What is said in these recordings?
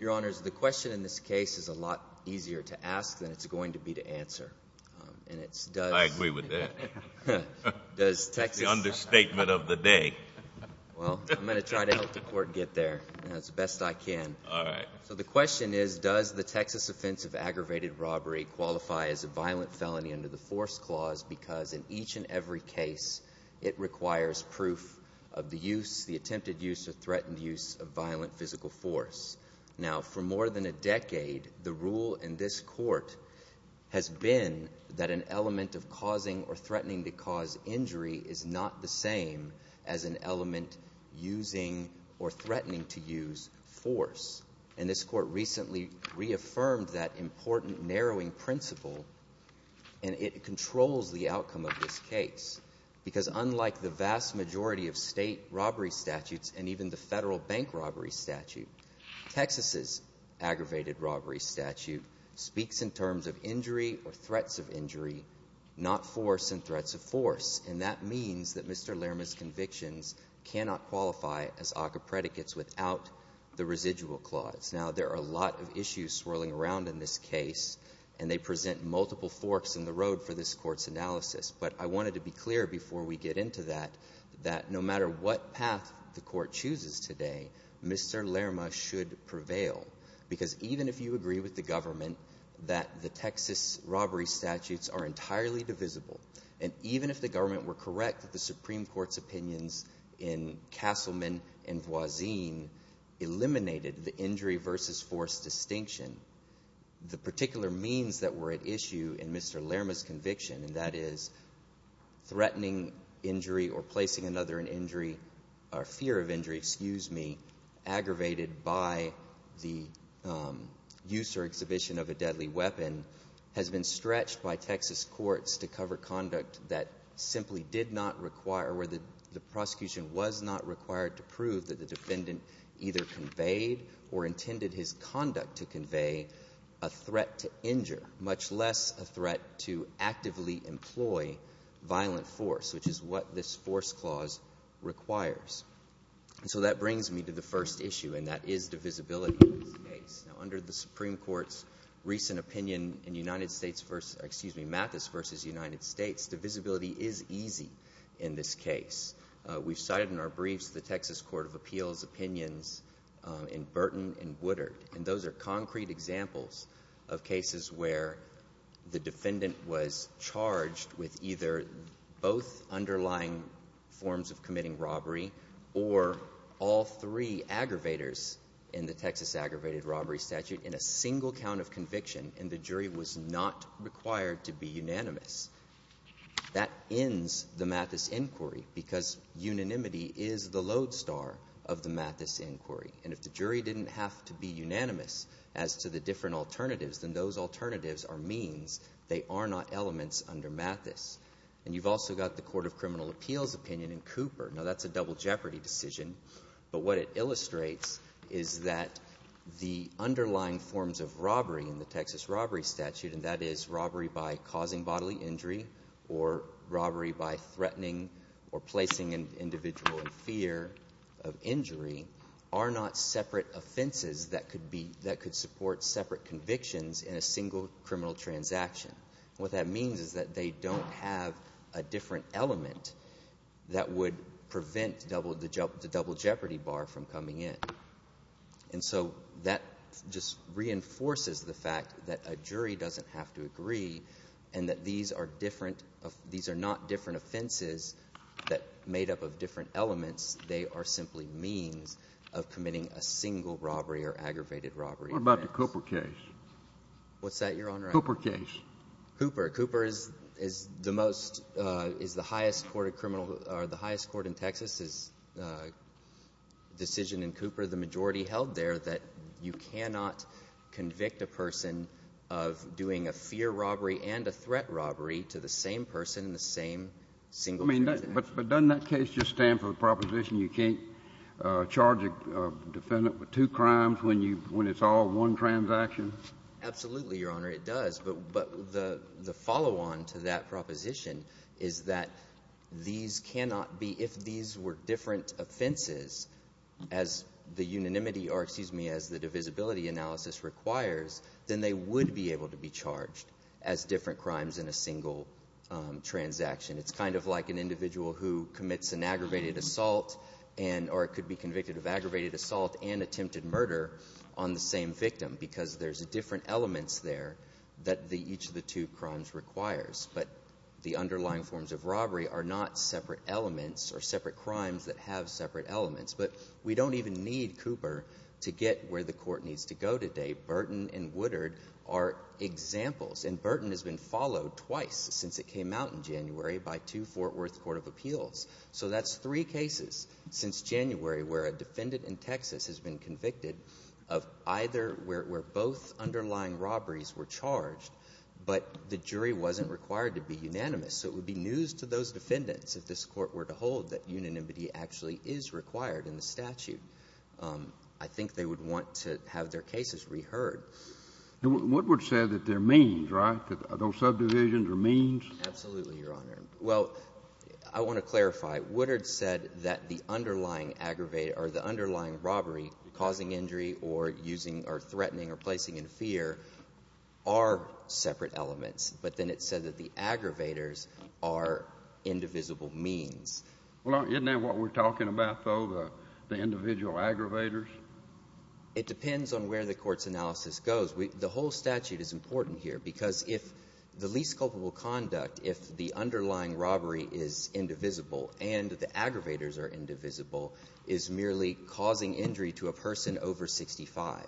Your Honors, the question in this case is a lot easier to ask than it's going to be to answer. And it's does... Justice Breyer I agree with that. Noel Lerma Does Texas... Justice Breyer It's the understatement of the day. Noel Lerma Well, I'm going to try to help the Court get there as best I can. Justice Breyer All right. Noel Lerma So the question is, does the Texas offense of aggravated robbery qualify as a violent felony under the Force Clause, because in each and every case it requires proof of the use, the attempted use or threatened use of violent physical force. Now, for more than a decade, the rule in this Court has been that an element of causing or threatening to cause injury is not the same as an element using or threatening to use force. And this Court recently reaffirmed that important narrowing principle, and it controls the outcome of this case, because unlike the vast majority of state robbery statutes and even the federal bank robbery statute, Texas's aggravated robbery statute speaks in terms of injury or threats of injury, not force and threats of force. And that means that Mr. Lerma's convictions cannot qualify as OCA predicates without the residual clause. Now, there are a lot of issues swirling around in this case, and they present multiple forks in the road for this Court's analysis. But I wanted to be clear before we get into that, that no matter what path the Court chooses today, Mr. Lerma should agree with the government that the Texas robbery statutes are entirely divisible. And even if the government were correct that the Supreme Court's opinions in Castleman and Voisin eliminated the injury versus force distinction, the particular means that were at issue in Mr. Lerma's conviction, and that is threatening injury or placing another in or exhibition of a deadly weapon, has been stretched by Texas courts to cover conduct that simply did not require, where the prosecution was not required to prove that the defendant either conveyed or intended his conduct to convey a threat to injure, much less a threat to actively employ violent force, which is what this force clause requires. So that brings me to the first issue, and that is divisibility in this case. Now, under the Supreme Court's recent opinion in United States versus — excuse me, Mathis versus United States, divisibility is easy in this case. We've cited in our briefs the Texas Court of Appeals opinions in Burton and Woodard, and those are concrete examples of cases where the defendant was charged with either both underlying forms of committing a robbery statute in a single count of conviction, and the jury was not required to be unanimous. That ends the Mathis inquiry, because unanimity is the lodestar of the Mathis inquiry. And if the jury didn't have to be unanimous as to the different alternatives, then those alternatives are means. They are not elements under Mathis. And you've also got the Court of Criminal Appeals opinion in Cooper. Now, that's a double jeopardy decision, but what it illustrates is that the underlying forms of robbery in the Texas robbery statute, and that is robbery by causing bodily injury or robbery by threatening or placing an individual in fear of injury, are not separate offenses that could be — that could support separate convictions in a single criminal transaction. What that means is that they don't have a different element that would prevent the double jeopardy bar from coming in. And so that just reinforces the fact that a jury doesn't have to agree and that these are different — these are not different offenses that — made up of different elements. They are simply means of committing a single robbery or aggravated robbery offense. What about the Cooper case? What's that, Your Honor? Cooper case. Cooper. Cooper is the most — is the highest court of criminal — or the highest court in Texas' decision in Cooper, the majority held there, that you cannot convict a person of doing a fear robbery and a threat robbery to the same person in the same single transaction. I mean, but doesn't that case just stand for the proposition you can't charge a defendant with two crimes when you — when it's all one transaction? Absolutely, Your Honor, it does. But the follow-on to that proposition is that these cannot be — if these were different offenses, as the unanimity or, excuse me, as the divisibility analysis requires, then they would be able to be charged as different crimes in a single transaction. It's kind of like an individual who commits an aggravated assault and — or could be convicted of aggravated assault and attempted murder on the same victim because there's different elements there that each of the two crimes requires. But the underlying forms of robbery are not separate elements or separate crimes that have separate elements. But we don't even need Cooper to get where the court needs to go today. Burton and Woodard are examples. And Burton has been followed twice since it came out in January by two Fort Worth Court of Appeals. So that's three cases since January where a defendant in Texas has been convicted of either — where both underlying robberies were charged, but the jury wasn't required to be unanimous. So it would be news to those defendants, if this Court were to hold, that unanimity actually is required in the statute. I think they would want to have their cases reheard. And Woodward said that there are means, right, that those subdivisions are means? Absolutely, Your Honor. Well, I want to clarify. Woodard said that the underlying aggravated — or the underlying robbery, causing injury, or using — or threatening or placing in fear are separate elements. But then it said that the aggravators are indivisible means. Well, isn't that what we're talking about, though, the individual aggravators? It depends on where the court's analysis goes. The whole statute is important here, because if the least culpable conduct, if the underlying robbery is indivisible and the aggravators are indivisible, is merely causing injury to a person over 65.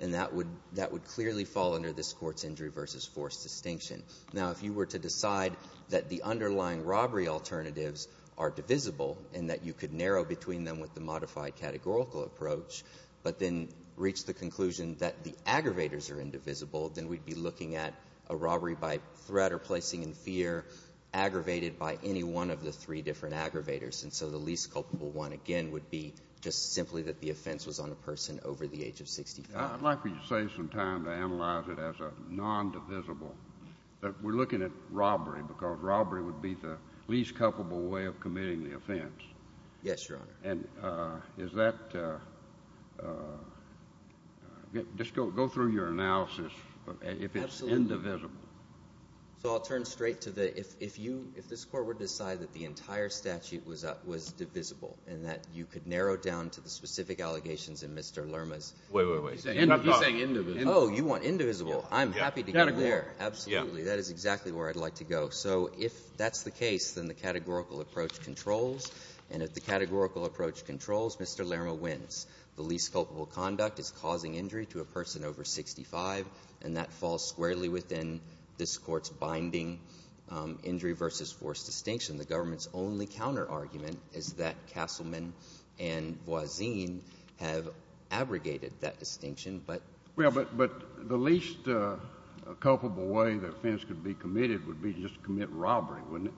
And that would — that would clearly fall under this Court's injury versus force distinction. Now, if you were to decide that the underlying robbery alternatives are divisible and that you could narrow between them with the modified categorical approach, but then reach the conclusion that the aggravators are indivisible, then we'd be looking at a robbery by threat or placing in fear aggravated by any one of the three different aggravators. And so the least culpable one, again, would be just simply that the offense was on a person over the age of 65. I'd like for you to save some time to analyze it as a non-divisible — that we're looking at robbery, because robbery would be the least culpable way of committing the offense. Yes, Your Honor. And is that — just go through your analysis if it's indivisible. Absolutely. So I'll turn straight to the — if you — if this Court were to decide that the entire statute was divisible and that you could narrow down to the specific allegations in Mr. Lerma's — Wait, wait, wait. He's saying indivisible. Oh, you want indivisible. I'm happy to get there. Absolutely. That is exactly where I'd like to go. So if that's the case, then the categorical approach controls. And if the categorical approach controls, Mr. Lerma wins. The least culpable conduct is causing injury to a person over 65, and that falls squarely within this Court's binding injury versus force distinction. The government's only counter-argument is that Castleman and Voisine have abrogated that distinction, but — Well, but the least culpable way the offense could be committed would be just to commit robbery, wouldn't it?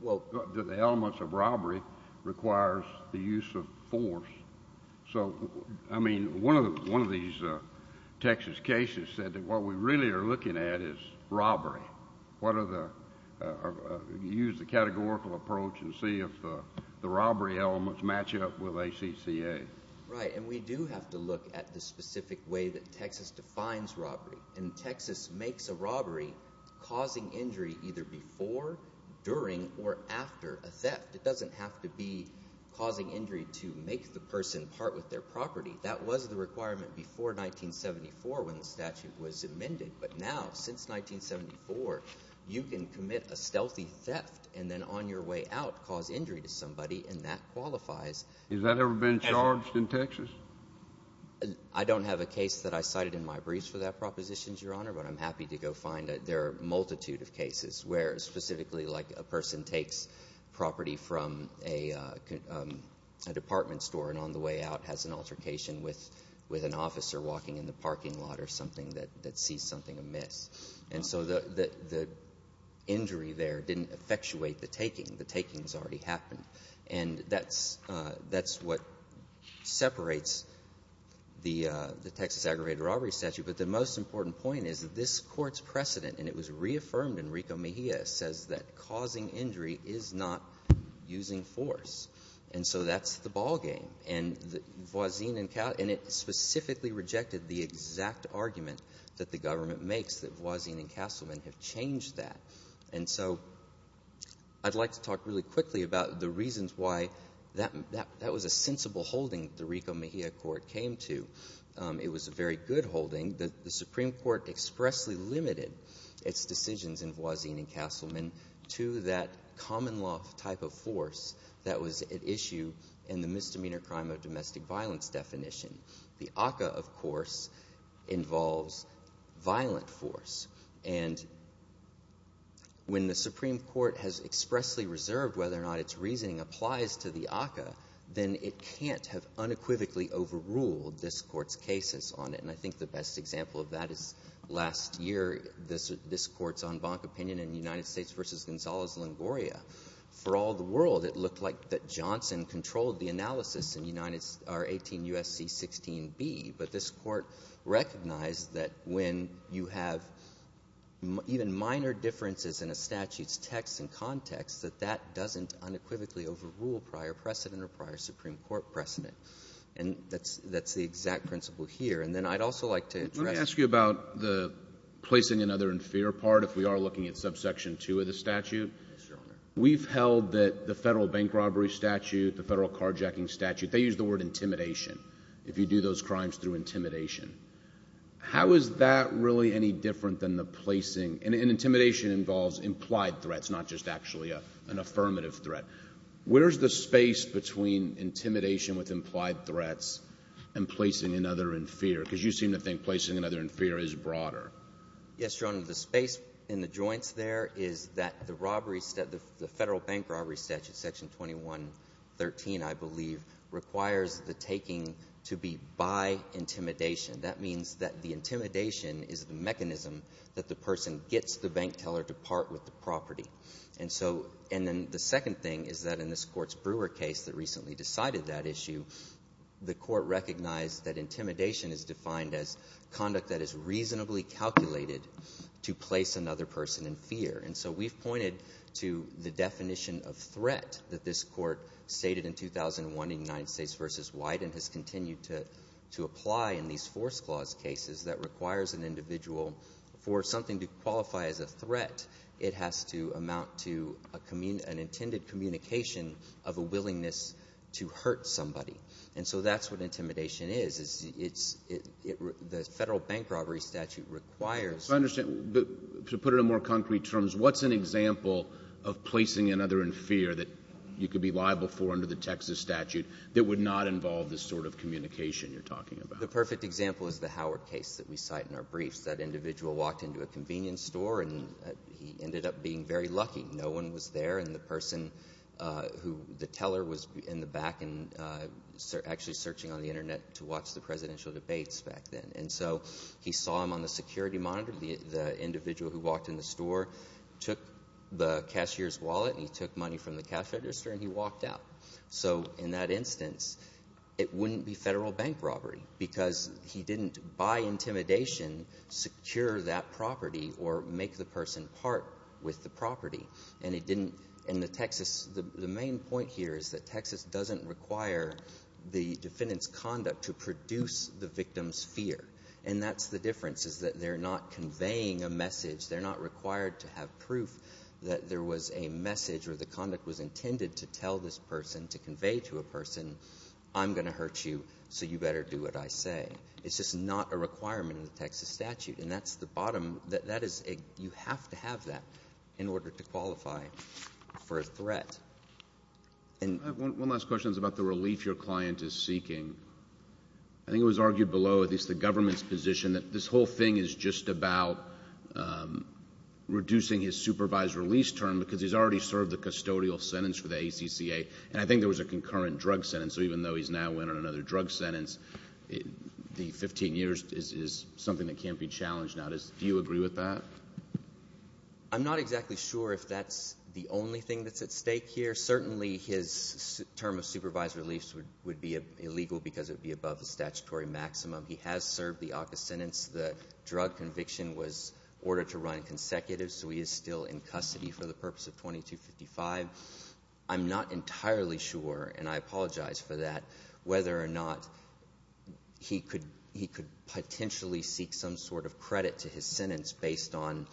Well — The elements of robbery requires the use of force. So, I mean, one of these Texas cases said that what we really are looking at is robbery. What are the — use the categorical approach and see if the robbery elements match up with ACCA. Right. And we do have to look at the specific way that Texas defines robbery. And Texas makes a robbery causing injury either before, during, or after a theft. It doesn't have to be causing injury to make the person part with their property. That was the requirement before 1974 when the statute was amended. But now, since 1974, you can commit a stealthy theft and then on your way out cause injury to somebody, and that qualifies — Has that ever been charged in Texas? I don't have a case that I cited in my briefs for that proposition, Your Honor, but I'm happy to go find it. There are a multitude of cases where specifically, like, a person takes property from a department store and on the way out has an altercation with an officer walking in the parking lot or something that sees something amiss. And so the injury there didn't effectuate the taking. The taking has already happened. And that's what separates the Texas aggravated robbery statute. But the most important point is that this Court's precedent, and it was reaffirmed in Rico Mejia, says that causing injury is not using force. And so that's the ballgame. And Voisin and — and it specifically rejected the exact argument that the government makes that Voisin and Castleman have changed that. And so I'd like to talk really quickly about the reasons why that was a sensible holding the Rico Mejia Court came to. It was a very good holding. The Supreme Court expressly limited its decisions in Voisin and Castleman to that common type of force that was at issue in the misdemeanor crime of domestic violence definition. The ACCA, of course, involves violent force. And when the Supreme Court has expressly reserved whether or not its reasoning applies to the ACCA, then it can't have unequivocally overruled this Court's cases on it. And I think the best example of that is last year, this Court's en banc opinion in United States v. Gonzalez-Lingoria. For all the world, it looked like that Johnson controlled the analysis in United — or 18 U.S.C. 16B. But this Court recognized that when you have even minor differences in a statute's text and context, that that doesn't unequivocally overrule prior precedent or prior Supreme Court precedent. And that's — that's the exact principle here. And then I'd also like to address — Your Honor, if we are looking at subsection 2 of the statute, we've held that the federal bank robbery statute, the federal carjacking statute, they use the word intimidation if you do those crimes through intimidation. How is that really any different than the placing — and intimidation involves implied threats, not just actually an affirmative threat. Where's the space between intimidation with implied threats and placing another in fear? Because you seem to think placing another in fear is broader. Yes, Your Honor. The space in the joints there is that the robbery — the federal bank robbery statute, section 2113, I believe, requires the taking to be by intimidation. That means that the intimidation is the mechanism that the person gets the bank teller to part with the property. And so — and then the second thing is that in this Court's Brewer case that recently decided that issue, the Court recognized that intimidation is defined as conduct that is reasonably calculated to place another person in fear. And so we've pointed to the definition of threat that this Court stated in 2001 in United States v. Wyden has continued to apply in these force clause cases that requires an individual for something to qualify as a threat. It has to amount to an intended communication of a willingness to hurt somebody. And so that's what intimidation is, is it's — the federal bank robbery statute requires — If I understand — to put it in more concrete terms, what's an example of placing another in fear that you could be liable for under the Texas statute that would not involve the sort of communication you're talking about? The perfect example is the Howard case that we cite in our briefs. That individual walked into a convenience store and he ended up being very lucky. No one was there and the person who — the teller was in the back and actually searching on the Internet to watch the presidential debates back then. And so he saw him on the security monitor. The individual who walked in the store took the cashier's wallet and he took money from the cash register and he walked out. So in that instance, it wouldn't be federal bank robbery because he didn't, by And he didn't — and the Texas — the main point here is that Texas doesn't require the defendant's conduct to produce the victim's fear. And that's the difference, is that they're not conveying a message. They're not required to have proof that there was a message or the conduct was intended to tell this person, to convey to a person, I'm going to hurt you so you better do what I say. It's just not a requirement in the Texas statute. And that's the bottom — that is — you have to have that in order to qualify for a threat. And — One last question is about the relief your client is seeking. I think it was argued below, at least the government's position, that this whole thing is just about reducing his supervised release term because he's already served the custodial sentence for the ACCA. And I think there was a concurrent drug sentence. So even though he's now went on another drug sentence, the 15 years is something that can't be challenged now. Do you agree with that? I'm not exactly sure if that's the only thing that's at stake here. Certainly his term of supervised release would be illegal because it would be above the statutory maximum. He has served the ACCA sentence. The drug conviction was ordered to run in consecutive, so he is still in custody for the purpose of 2255. I'm not entirely sure, and I apologize for that, whether or not he could potentially seek some sort of credit to his sentence based on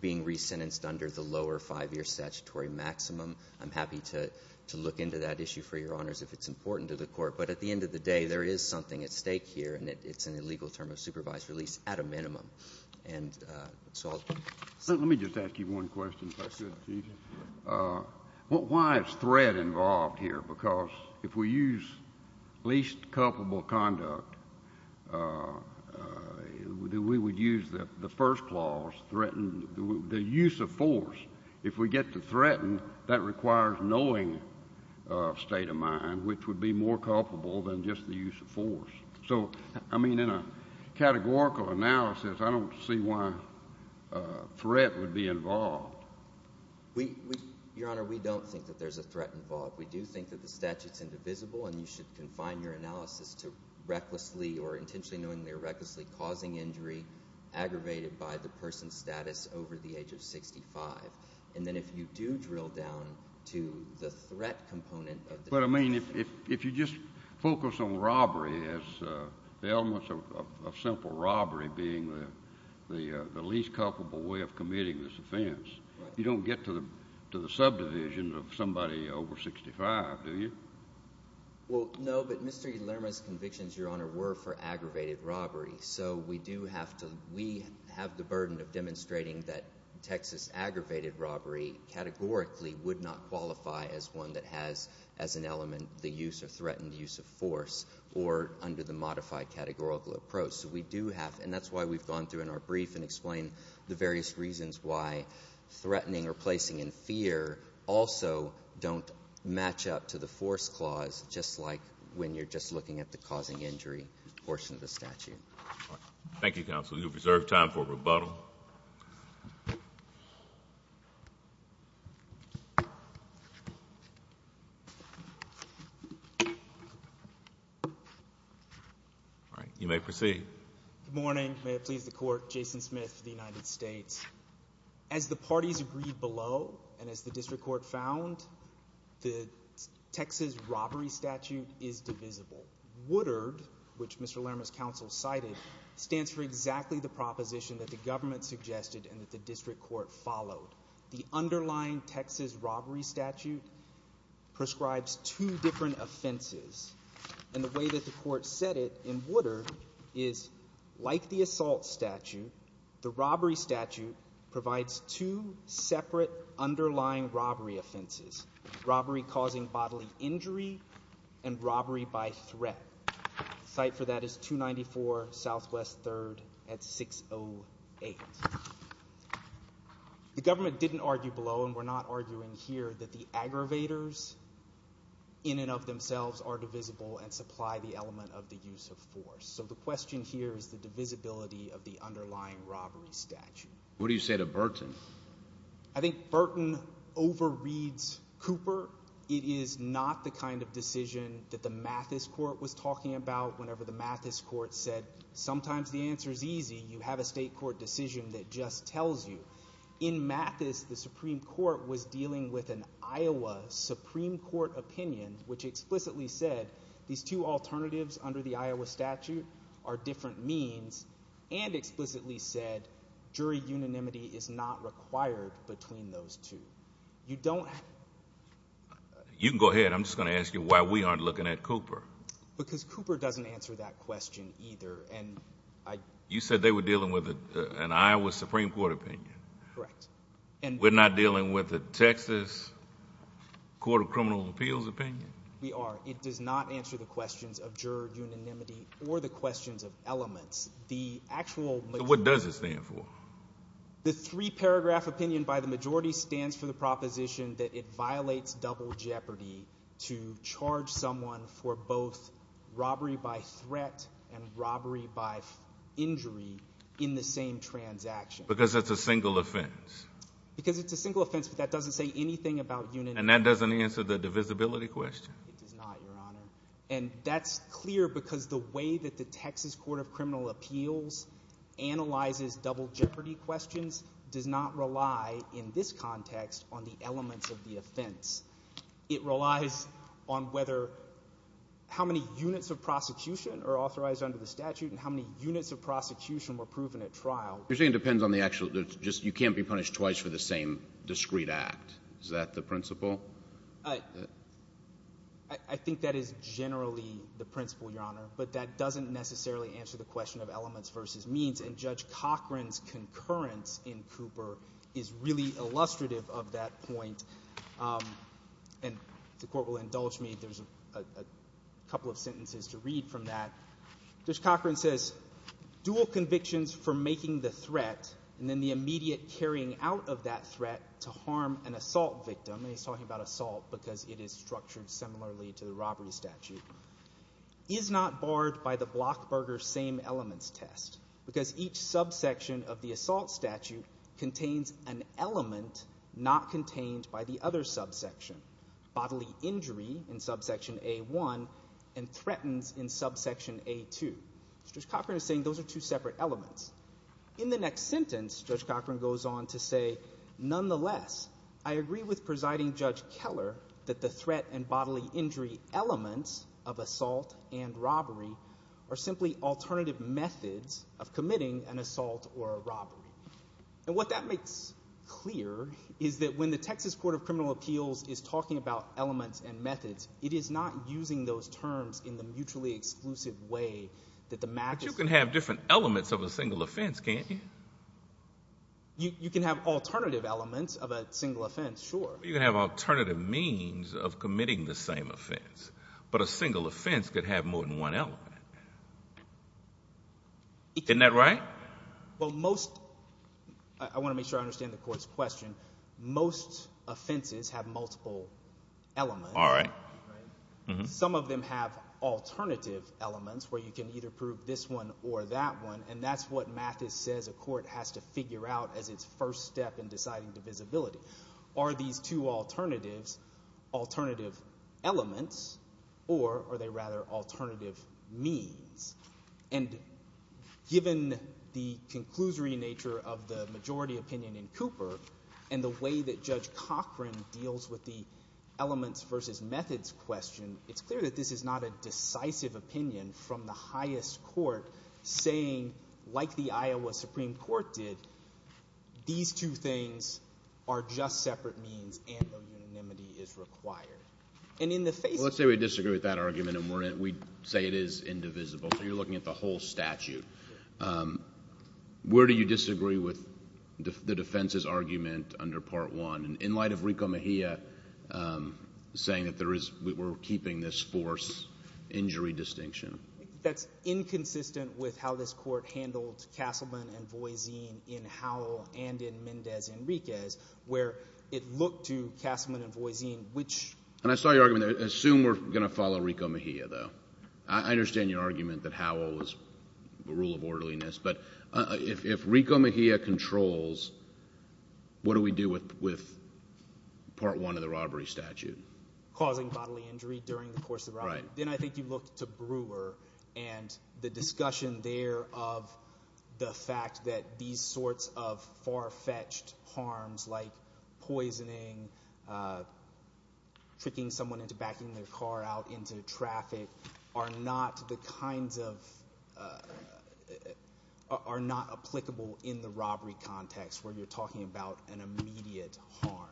being re-sentenced under the lower five-year statutory maximum. I'm happy to look into that issue for Your Honors if it's important to the Court. But at the end of the day, there is something at stake here, and it's an illegal term of supervised release at a minimum. And so I'll — Let me just ask you one question, if I could, Chief. Why is threat involved here? Because if we use least culpable conduct, we would use the first clause, threaten — the use of force. If we get to threaten, that requires knowing of state of mind, which would be more culpable than just the use of force. So, I mean, in a categorical analysis, I don't see why threat would be involved. Your Honor, we don't think that there's a threat involved. We do think that the statute's indivisible, and you should confine your analysis to recklessly or intentionally knowingly or recklessly causing injury aggravated by the person's status over the age of 65. And then if you do drill down to the threat component of — But, I mean, if you just focus on robbery as — the elements of simple robbery being the least culpable way of committing this offense, you don't get to the subdivision of somebody over 65, do you? Well, no, but Mr. Lerma's convictions, Your Honor, were for aggravated robbery. So we do have to — we have the burden of demonstrating that Texas aggravated robbery categorically would not qualify as one that has, as an element, the use or threatened use of force or under the modified categorical approach. So we do have — and that's why we've gone through in our brief and explained the don't match up to the force clause, just like when you're just looking at the causing injury portion of the statute. Thank you, counsel. You have reserved time for rebuttal. All right. You may proceed. Good morning. May it please the Court. Jason Smith of the United States. As the parties agreed below and as the district court found, the Texas robbery statute is divisible. Woodard, which Mr. Lerma's counsel cited, stands for exactly the proposition that the government suggested and that the district court followed. The underlying Texas robbery statute prescribes two different offenses, and the way that the provides two separate underlying robbery offenses, robbery causing bodily injury and robbery by threat. Cite for that is 294 Southwest 3rd at 608. The government didn't argue below, and we're not arguing here, that the aggravators in and of themselves are divisible and supply the element of the use of force. So the question here is the divisibility of the underlying robbery statute. What do you say to Burton? I think Burton overreads Cooper. It is not the kind of decision that the Mathis court was talking about. Whenever the Mathis court said, sometimes the answer is easy. You have a state court decision that just tells you. In Mathis, the Supreme Court was dealing with an Iowa Supreme Court opinion, which explicitly said these two alternatives under the Iowa statute are different means and explicitly said jury unanimity is not required between those two. You don't. You can go ahead. I'm just going to ask you why we aren't looking at Cooper. Because Cooper doesn't answer that question either, and I. You said they were dealing with an Iowa Supreme Court opinion. Correct. And we're not dealing with the Texas Court of Criminal Appeals opinion. We are. It does not answer the questions of juror unanimity or the questions of elements. The actual. What does it stand for? The three paragraph opinion by the majority stands for the proposition that it violates double jeopardy to charge someone for both robbery by threat and robbery by injury in the same transaction. Because it's a single offense. Because it's a single offense, but that doesn't say anything about unanimity. And that doesn't answer the divisibility question. It does not, Your Honor. And that's clear because the way that the Texas Court of Criminal Appeals analyzes double jeopardy questions does not rely in this context on the elements of the offense. It relies on whether how many units of prosecution are authorized under the statute and how many units of prosecution were proven at trial. You're saying it depends on the actual. You can't be punished twice for the same discreet act. Is that the principle? I think that is generally the principle, Your Honor. But that doesn't necessarily answer the question of elements versus means. And Judge Cochran's concurrence in Cooper is really illustrative of that point. And the court will indulge me. There's a couple of sentences to read from that. Judge Cochran says, dual convictions for making the threat and then the immediate carrying out of that threat to harm an assault victim. And he's talking about assault because it is structured similarly to the robbery statute. Is not barred by the Blockburger same elements test because each subsection of the assault statute contains an element not contained by the other subsection. Bodily injury in subsection A1 and threatens in subsection A2. Judge Cochran is saying those are two separate elements. In the next sentence, Judge Cochran goes on to say, nonetheless, I agree with Presiding Judge Keller that the threat and bodily injury elements of assault and robbery are simply alternative methods of committing an assault or a robbery. And what that makes clear is that when the Texas Court of Criminal Appeals is talking about elements and methods, it is not using those terms in the mutually exclusive way that the matches. But you can have different elements of a single offense, can't you? You can have alternative elements of a single offense. Sure. You can have alternative means of committing the same offense, but a single offense could have more than one element. Isn't that right? Well, most I want to make sure I understand the court's question. Most offenses have multiple elements. All right. Some of them have alternative elements where you can either prove this one or that one. And that's what Mathis says a court has to figure out as its first step in deciding divisibility. Are these two alternatives alternative elements or are they rather alternative means? And given the conclusory nature of the majority opinion in Cooper and the way that Judge Cochran deals with the elements versus methods question, it's clear that this is not a like the Iowa Supreme Court did. These two things are just separate means and no unanimity is required. Let's say we disagree with that argument and we say it is indivisible. So you're looking at the whole statute. Where do you disagree with the defense's argument under Part 1? In light of Rico Mejia saying that we're keeping this force injury distinction. That's inconsistent with how this court handled Castleman and Voisin in Howell and in Mendez Enriquez, where it looked to Castleman and Voisin, which... And I saw your argument. Assume we're going to follow Rico Mejia, though. I understand your argument that Howell was the rule of orderliness. But if Rico Mejia controls, what do we do with Part 1 of the robbery statute? Causing bodily injury during the course of the robbery. Then I think you look to Brewer and the discussion there of the fact that these sorts of far fetched harms like poisoning, tricking someone into backing their car out into traffic are not the kinds of are not applicable in the robbery context where you're talking about an immediate harm.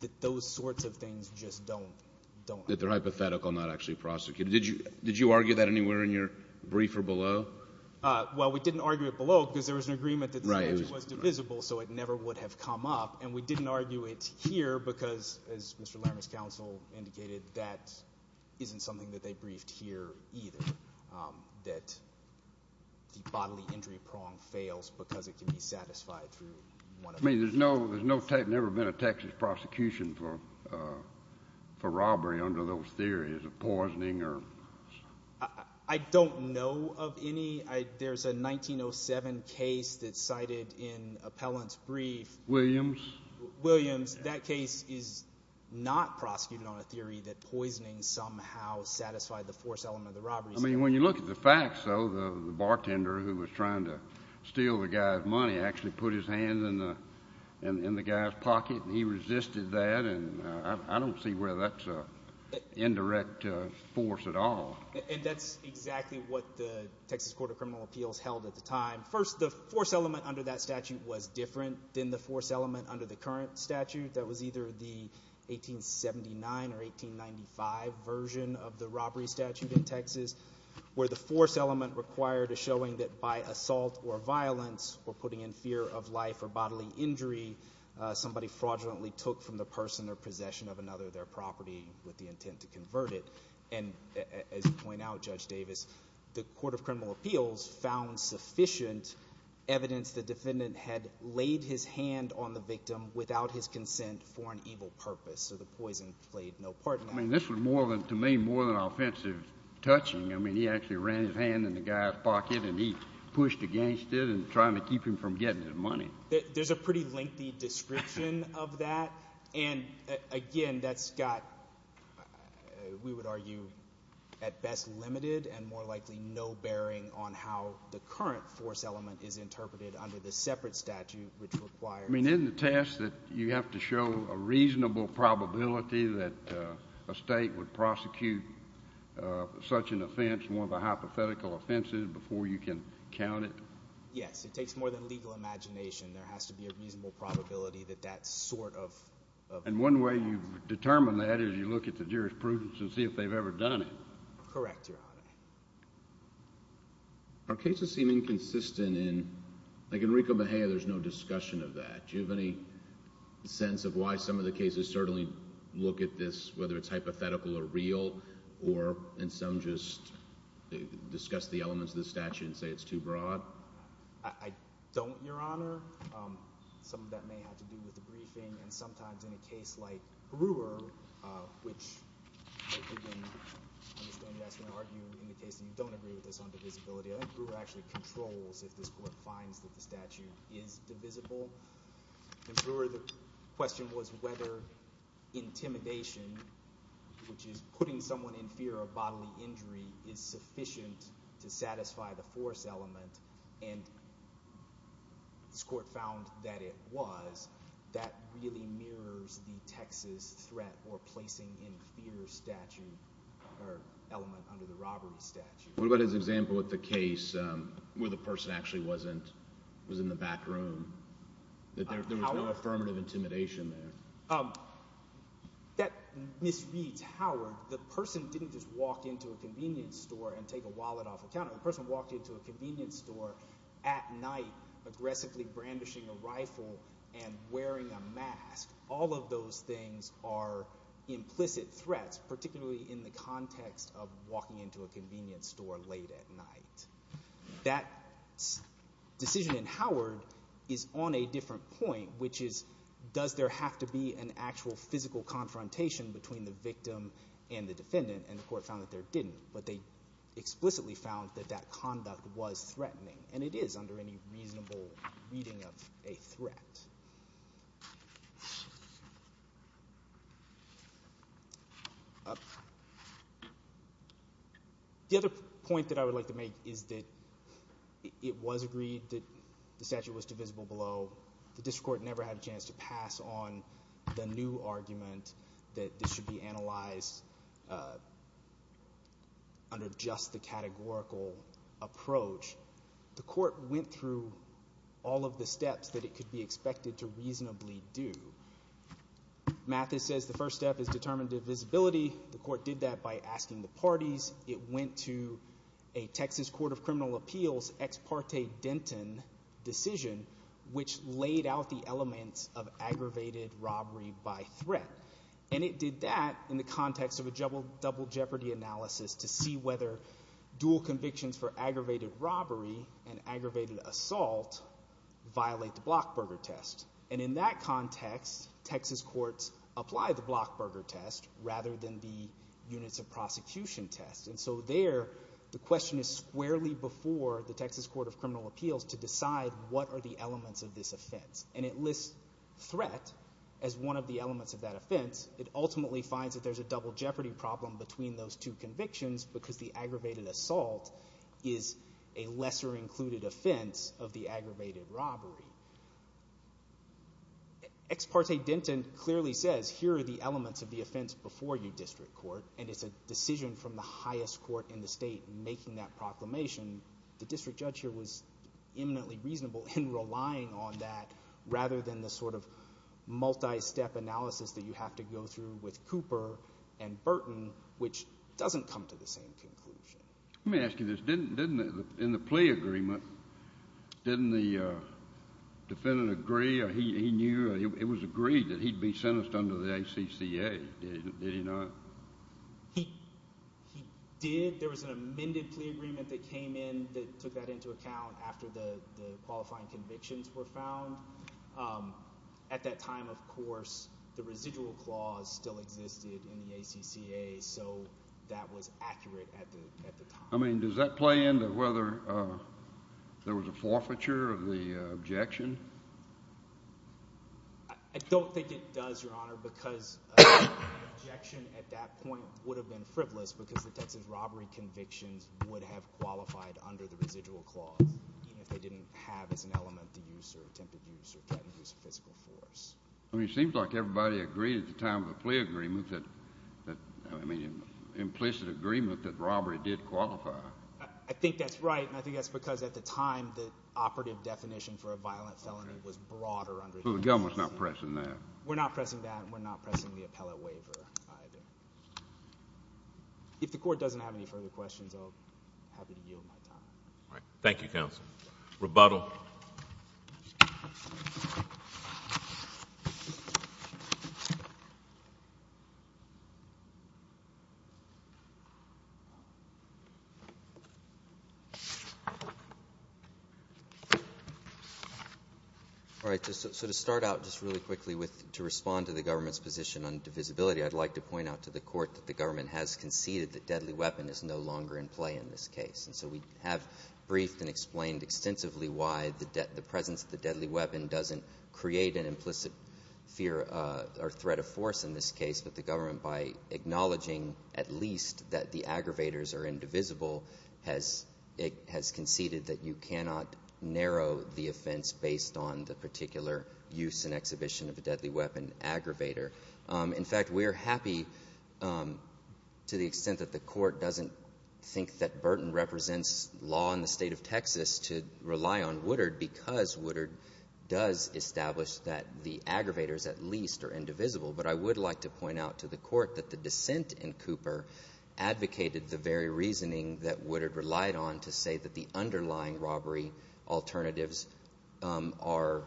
That those sorts of things just don't... That they're hypothetical, not actually prosecuted. Did you argue that anywhere in your briefer below? Well, we didn't argue it below because there was an agreement that the statute was divisible, so it never would have come up. And we didn't argue it here because, as Mr. Larimer's counsel indicated, that isn't something that they briefed here either, that the bodily injury prong fails because it can be satisfied through one of... I mean, there's no type... There's never been a Texas prosecution for robbery under those theories of poisoning or... I don't know of any. There's a 1907 case that's cited in Appellant's brief. Williams? Williams. That case is not prosecuted on a theory that poisoning somehow satisfied the force element of the robbery. I mean, when you look at the facts, though, the bartender who was trying to steal the guy's money actually put his hand in the guy's pocket, and he resisted that. And I don't see where that's an indirect force at all. And that's exactly what the Texas Court of Criminal Appeals held at the time. First, the force element under that statute was different than the force element under the current statute that was either the 1879 or 1895 version of the robbery statute in Texas, where the force element required is showing that by assault or violence or putting in fear of life or bodily injury, somebody fraudulently took from the person or possession of another their property with the intent to convert it. And as you point out, Judge Davis, the Court of Criminal Appeals found sufficient evidence the defendant had laid his hand on the victim without his consent for an evil purpose. So the poison played no part in that. I mean, this was more than, to me, more than offensive touching. I mean, he actually ran his hand in the guy's pocket, and he pushed against it and trying to keep him from getting his money. There's a pretty lengthy description of that. And again, that's got, we would argue, at best limited and more likely no bearing on how the current force element is interpreted under the separate statute, which requires— I mean, isn't the test that you have to show a reasonable probability that a state would prosecute such an offense, one of the hypothetical offenses, before you can count it? Yes. It takes more than legal imagination. There has to be a reasonable probability that that sort of— And one way you've determined that is you look at the jurisprudence and see if they've ever done it. Correct, Your Honor. Our cases seem inconsistent in, like Enrico Mejia, there's no discussion of that. Do you have any sense of why some of the cases certainly look at this, whether it's hypothetical or real, or in some just discuss the elements of the statute and say it's too broad? I don't, Your Honor. Some of that may have to do with the briefing. And sometimes in a case like Brewer, which I understand you guys are going to argue in the case and you don't agree with this on divisibility, I think Brewer actually controls if this court finds that the statute is divisible. In Brewer, the question was whether intimidation, which is putting someone in fear of bodily injury, is sufficient to satisfy the force element. And this court found that it was. That really mirrors the Texas threat or placing in fear statute or element under the robbery statute. What about his example with the case where the person actually wasn't—was in the back room, that there was no affirmative intimidation there? That misreads Howard. The person didn't just walk into a convenience store and take a wallet off the counter. The person walked into a convenience store at night, aggressively brandishing a rifle and wearing a mask. All of those things are implicit threats, particularly in the context of walking into a convenience store late at night. That decision in Howard is on a different point, which is does there have to be an actual physical confrontation between the victim and the defendant? And the court found that there didn't. But they explicitly found that that conduct was threatening. And it is under any reasonable reading of a threat. The other point that I would like to make is that it was agreed that the statute was divisible below. The district court never had a chance to pass on the new argument that this should be analyzed under just the categorical approach. The court went through all of the steps that it could be expected to reasonably do. Mathis says the first step is determined divisibility. The court did that by asking the parties. It went to a Texas Court of Criminal Appeals ex parte Denton decision, which laid out the elements of aggravated robbery by threat. And it did that in the context of a double jeopardy analysis to see whether dual convictions for aggravated robbery and aggravated assault violate the Blockburger test. And in that context, Texas courts apply the Blockburger test rather than the units of the Blockburger test. So there, the question is squarely before the Texas Court of Criminal Appeals to decide what are the elements of this offense. And it lists threat as one of the elements of that offense. It ultimately finds that there's a double jeopardy problem between those two convictions because the aggravated assault is a lesser included offense of the aggravated robbery. Ex parte Denton clearly says, here are the elements of the offense before you, district court, and it's a decision from the highest court in the state making that proclamation. The district judge here was eminently reasonable in relying on that rather than the sort of multi-step analysis that you have to go through with Cooper and Burton, which doesn't come to the same conclusion. Let me ask you this. In the plea agreement, didn't the defendant agree or he knew or it was agreed that he'd be sentenced under the ACCA? Did he not? He did. There was an amended plea agreement that came in that took that into account after the qualifying convictions were found. At that time, of course, the residual clause still existed in the ACCA. So that was accurate at the time. I mean, does that play into whether there was a forfeiture of the objection? I don't think it does, Your Honor, because the objection at that point would have been frivolous because the Texas robbery convictions would have qualified under the residual clause, even if they didn't have as an element the use or attempted use or threatened use of physical force. I mean, it seems like everybody agreed at the time of the plea agreement that, I mean, implicit agreement that robbery did qualify. I think that's right. And I think that's because at the time, the operative definition for a violent felony was broader under the ACCA. So the government's not pressing that? We're not pressing that. We're not pressing the appellate waiver either. If the court doesn't have any further questions, I'll be happy to yield my time. All right. Thank you, counsel. Rebuttal. All right. So to start out just really quickly to respond to the government's position on divisibility, I'd like to point out to the court that the government has conceded that deadly weapon is no longer in play in this case. And so we have briefed and explained extensively why the presence of the deadly weapon doesn't create an implicit fear or threat of force in this case, but the government, by acknowledging at least that the aggravators are indivisible, has conceded that you cannot narrow the offense based on the particular use and exhibition of a deadly weapon aggravator. In fact, we are happy to the extent that the court doesn't think that Burton represents law in the state of Texas to rely on Woodard because Woodard does establish that the aggravators at least are indivisible. But I would like to point out to the court that the dissent in Cooper advocated the very reasoning that Woodard relied on to say that the underlying robbery alternatives are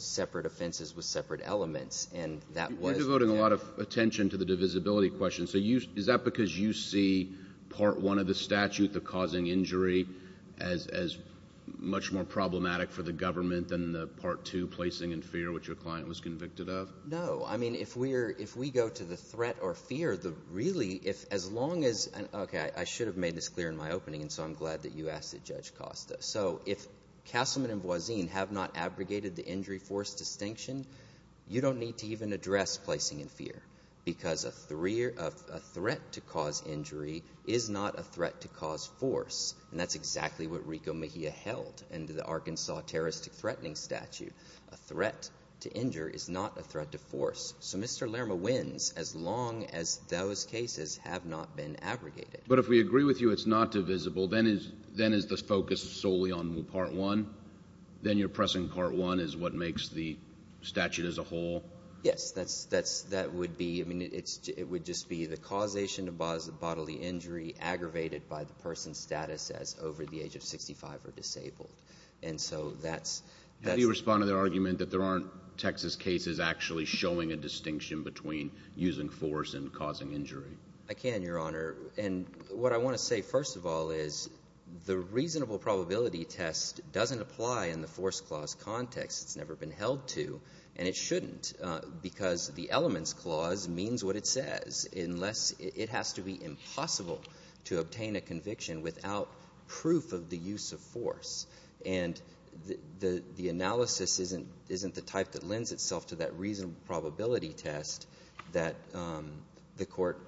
separate offenses with separate elements. And that was— You're devoting a lot of attention to the divisibility question. So is that because you see part one of the statute, the causing injury, as much more problematic for the government than the part two, placing in fear, which your client was convicted of? No. I mean, if we go to the threat or fear, really, if as long as— Okay, I should have made this clear in my opening, and so I'm glad that you asked it, Judge Costa. So if Castleman and Voisin have not abrogated the injury force distinction, you don't need to even address placing in fear because a threat to cause injury is not a threat to cause force. And that's exactly what Rico Mejia held in the Arkansas terroristic threatening statute. A threat to injure is not a threat to force. So Mr. Lerma wins as long as those cases have not been abrogated. But if we agree with you it's not divisible, then is the focus solely on part one? Then you're pressing part one is what makes the statute as a whole? Yes, that would be—I mean, it would just be the causation of bodily injury aggravated by the person's status as over the age of 65 or disabled. And so that's— How do you respond to their argument that there aren't Texas cases actually showing a distinction between using force and causing injury? I can, Your Honor. And what I want to say first of all is the reasonable probability test doesn't apply in the force clause context. It's never been held to, and it shouldn't because the elements clause means what it says unless it has to be impossible to obtain a conviction without proof of the use of force. And the analysis isn't the type that lends itself to that reasonable probability test that the Court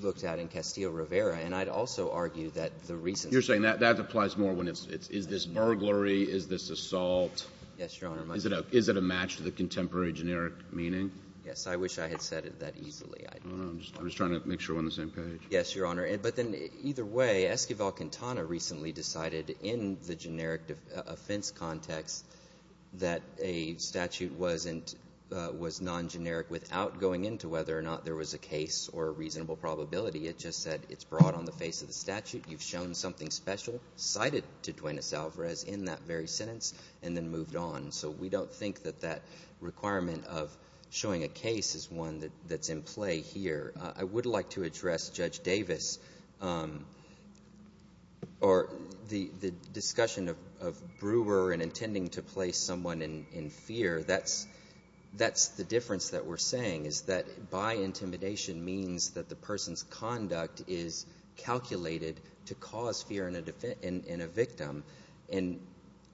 looked at in Castillo-Rivera. And I'd also argue that the reason— You're saying that applies more when it's is this burglary, is this assault? Yes, Your Honor. Is it a match to the contemporary generic meaning? I wish I had said it that easily. I don't know. I'm just trying to make sure we're on the same page. Yes, Your Honor. But then either way, Esquivel-Quintana recently decided in the generic offense context that a statute was non-generic without going into whether or not there was a case or a reasonable probability. It just said it's brought on the face of the statute, you've shown something special, cited to Duenas-Alvarez in that very sentence, and then moved on. So we don't think that that requirement of showing a case is one that's in play here. I would like to address Judge Davis or the discussion of Brewer and intending to place someone in fear. That's the difference that we're saying, is that by intimidation means that the person's conduct is calculated to cause fear in a victim. And,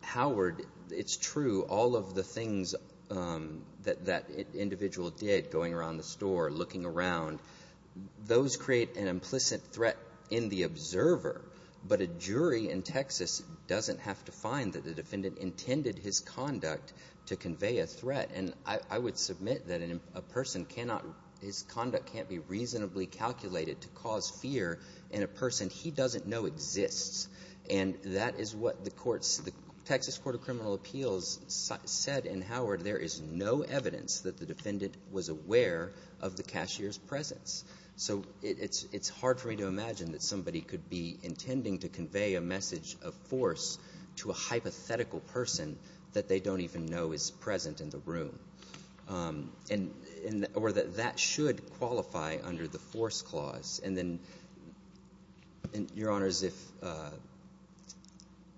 Howard, it's true, all of the things that that individual did, going around the house, those create an implicit threat in the observer. But a jury in Texas doesn't have to find that the defendant intended his conduct to convey a threat. And I would submit that a person cannot, his conduct can't be reasonably calculated to cause fear in a person he doesn't know exists. And that is what the Texas Court of Criminal Appeals said, and, Howard, there is no evidence that the defendant was aware of the cashier's presence. So it's hard for me to imagine that somebody could be intending to convey a message of force to a hypothetical person that they don't even know is present in the room, or that that should qualify under the force clause. And then, Your Honors, if you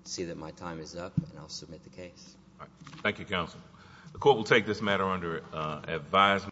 see that my time is up, I'll submit the case. All right. Thank you, Counsel. The court will take this matter under advisement.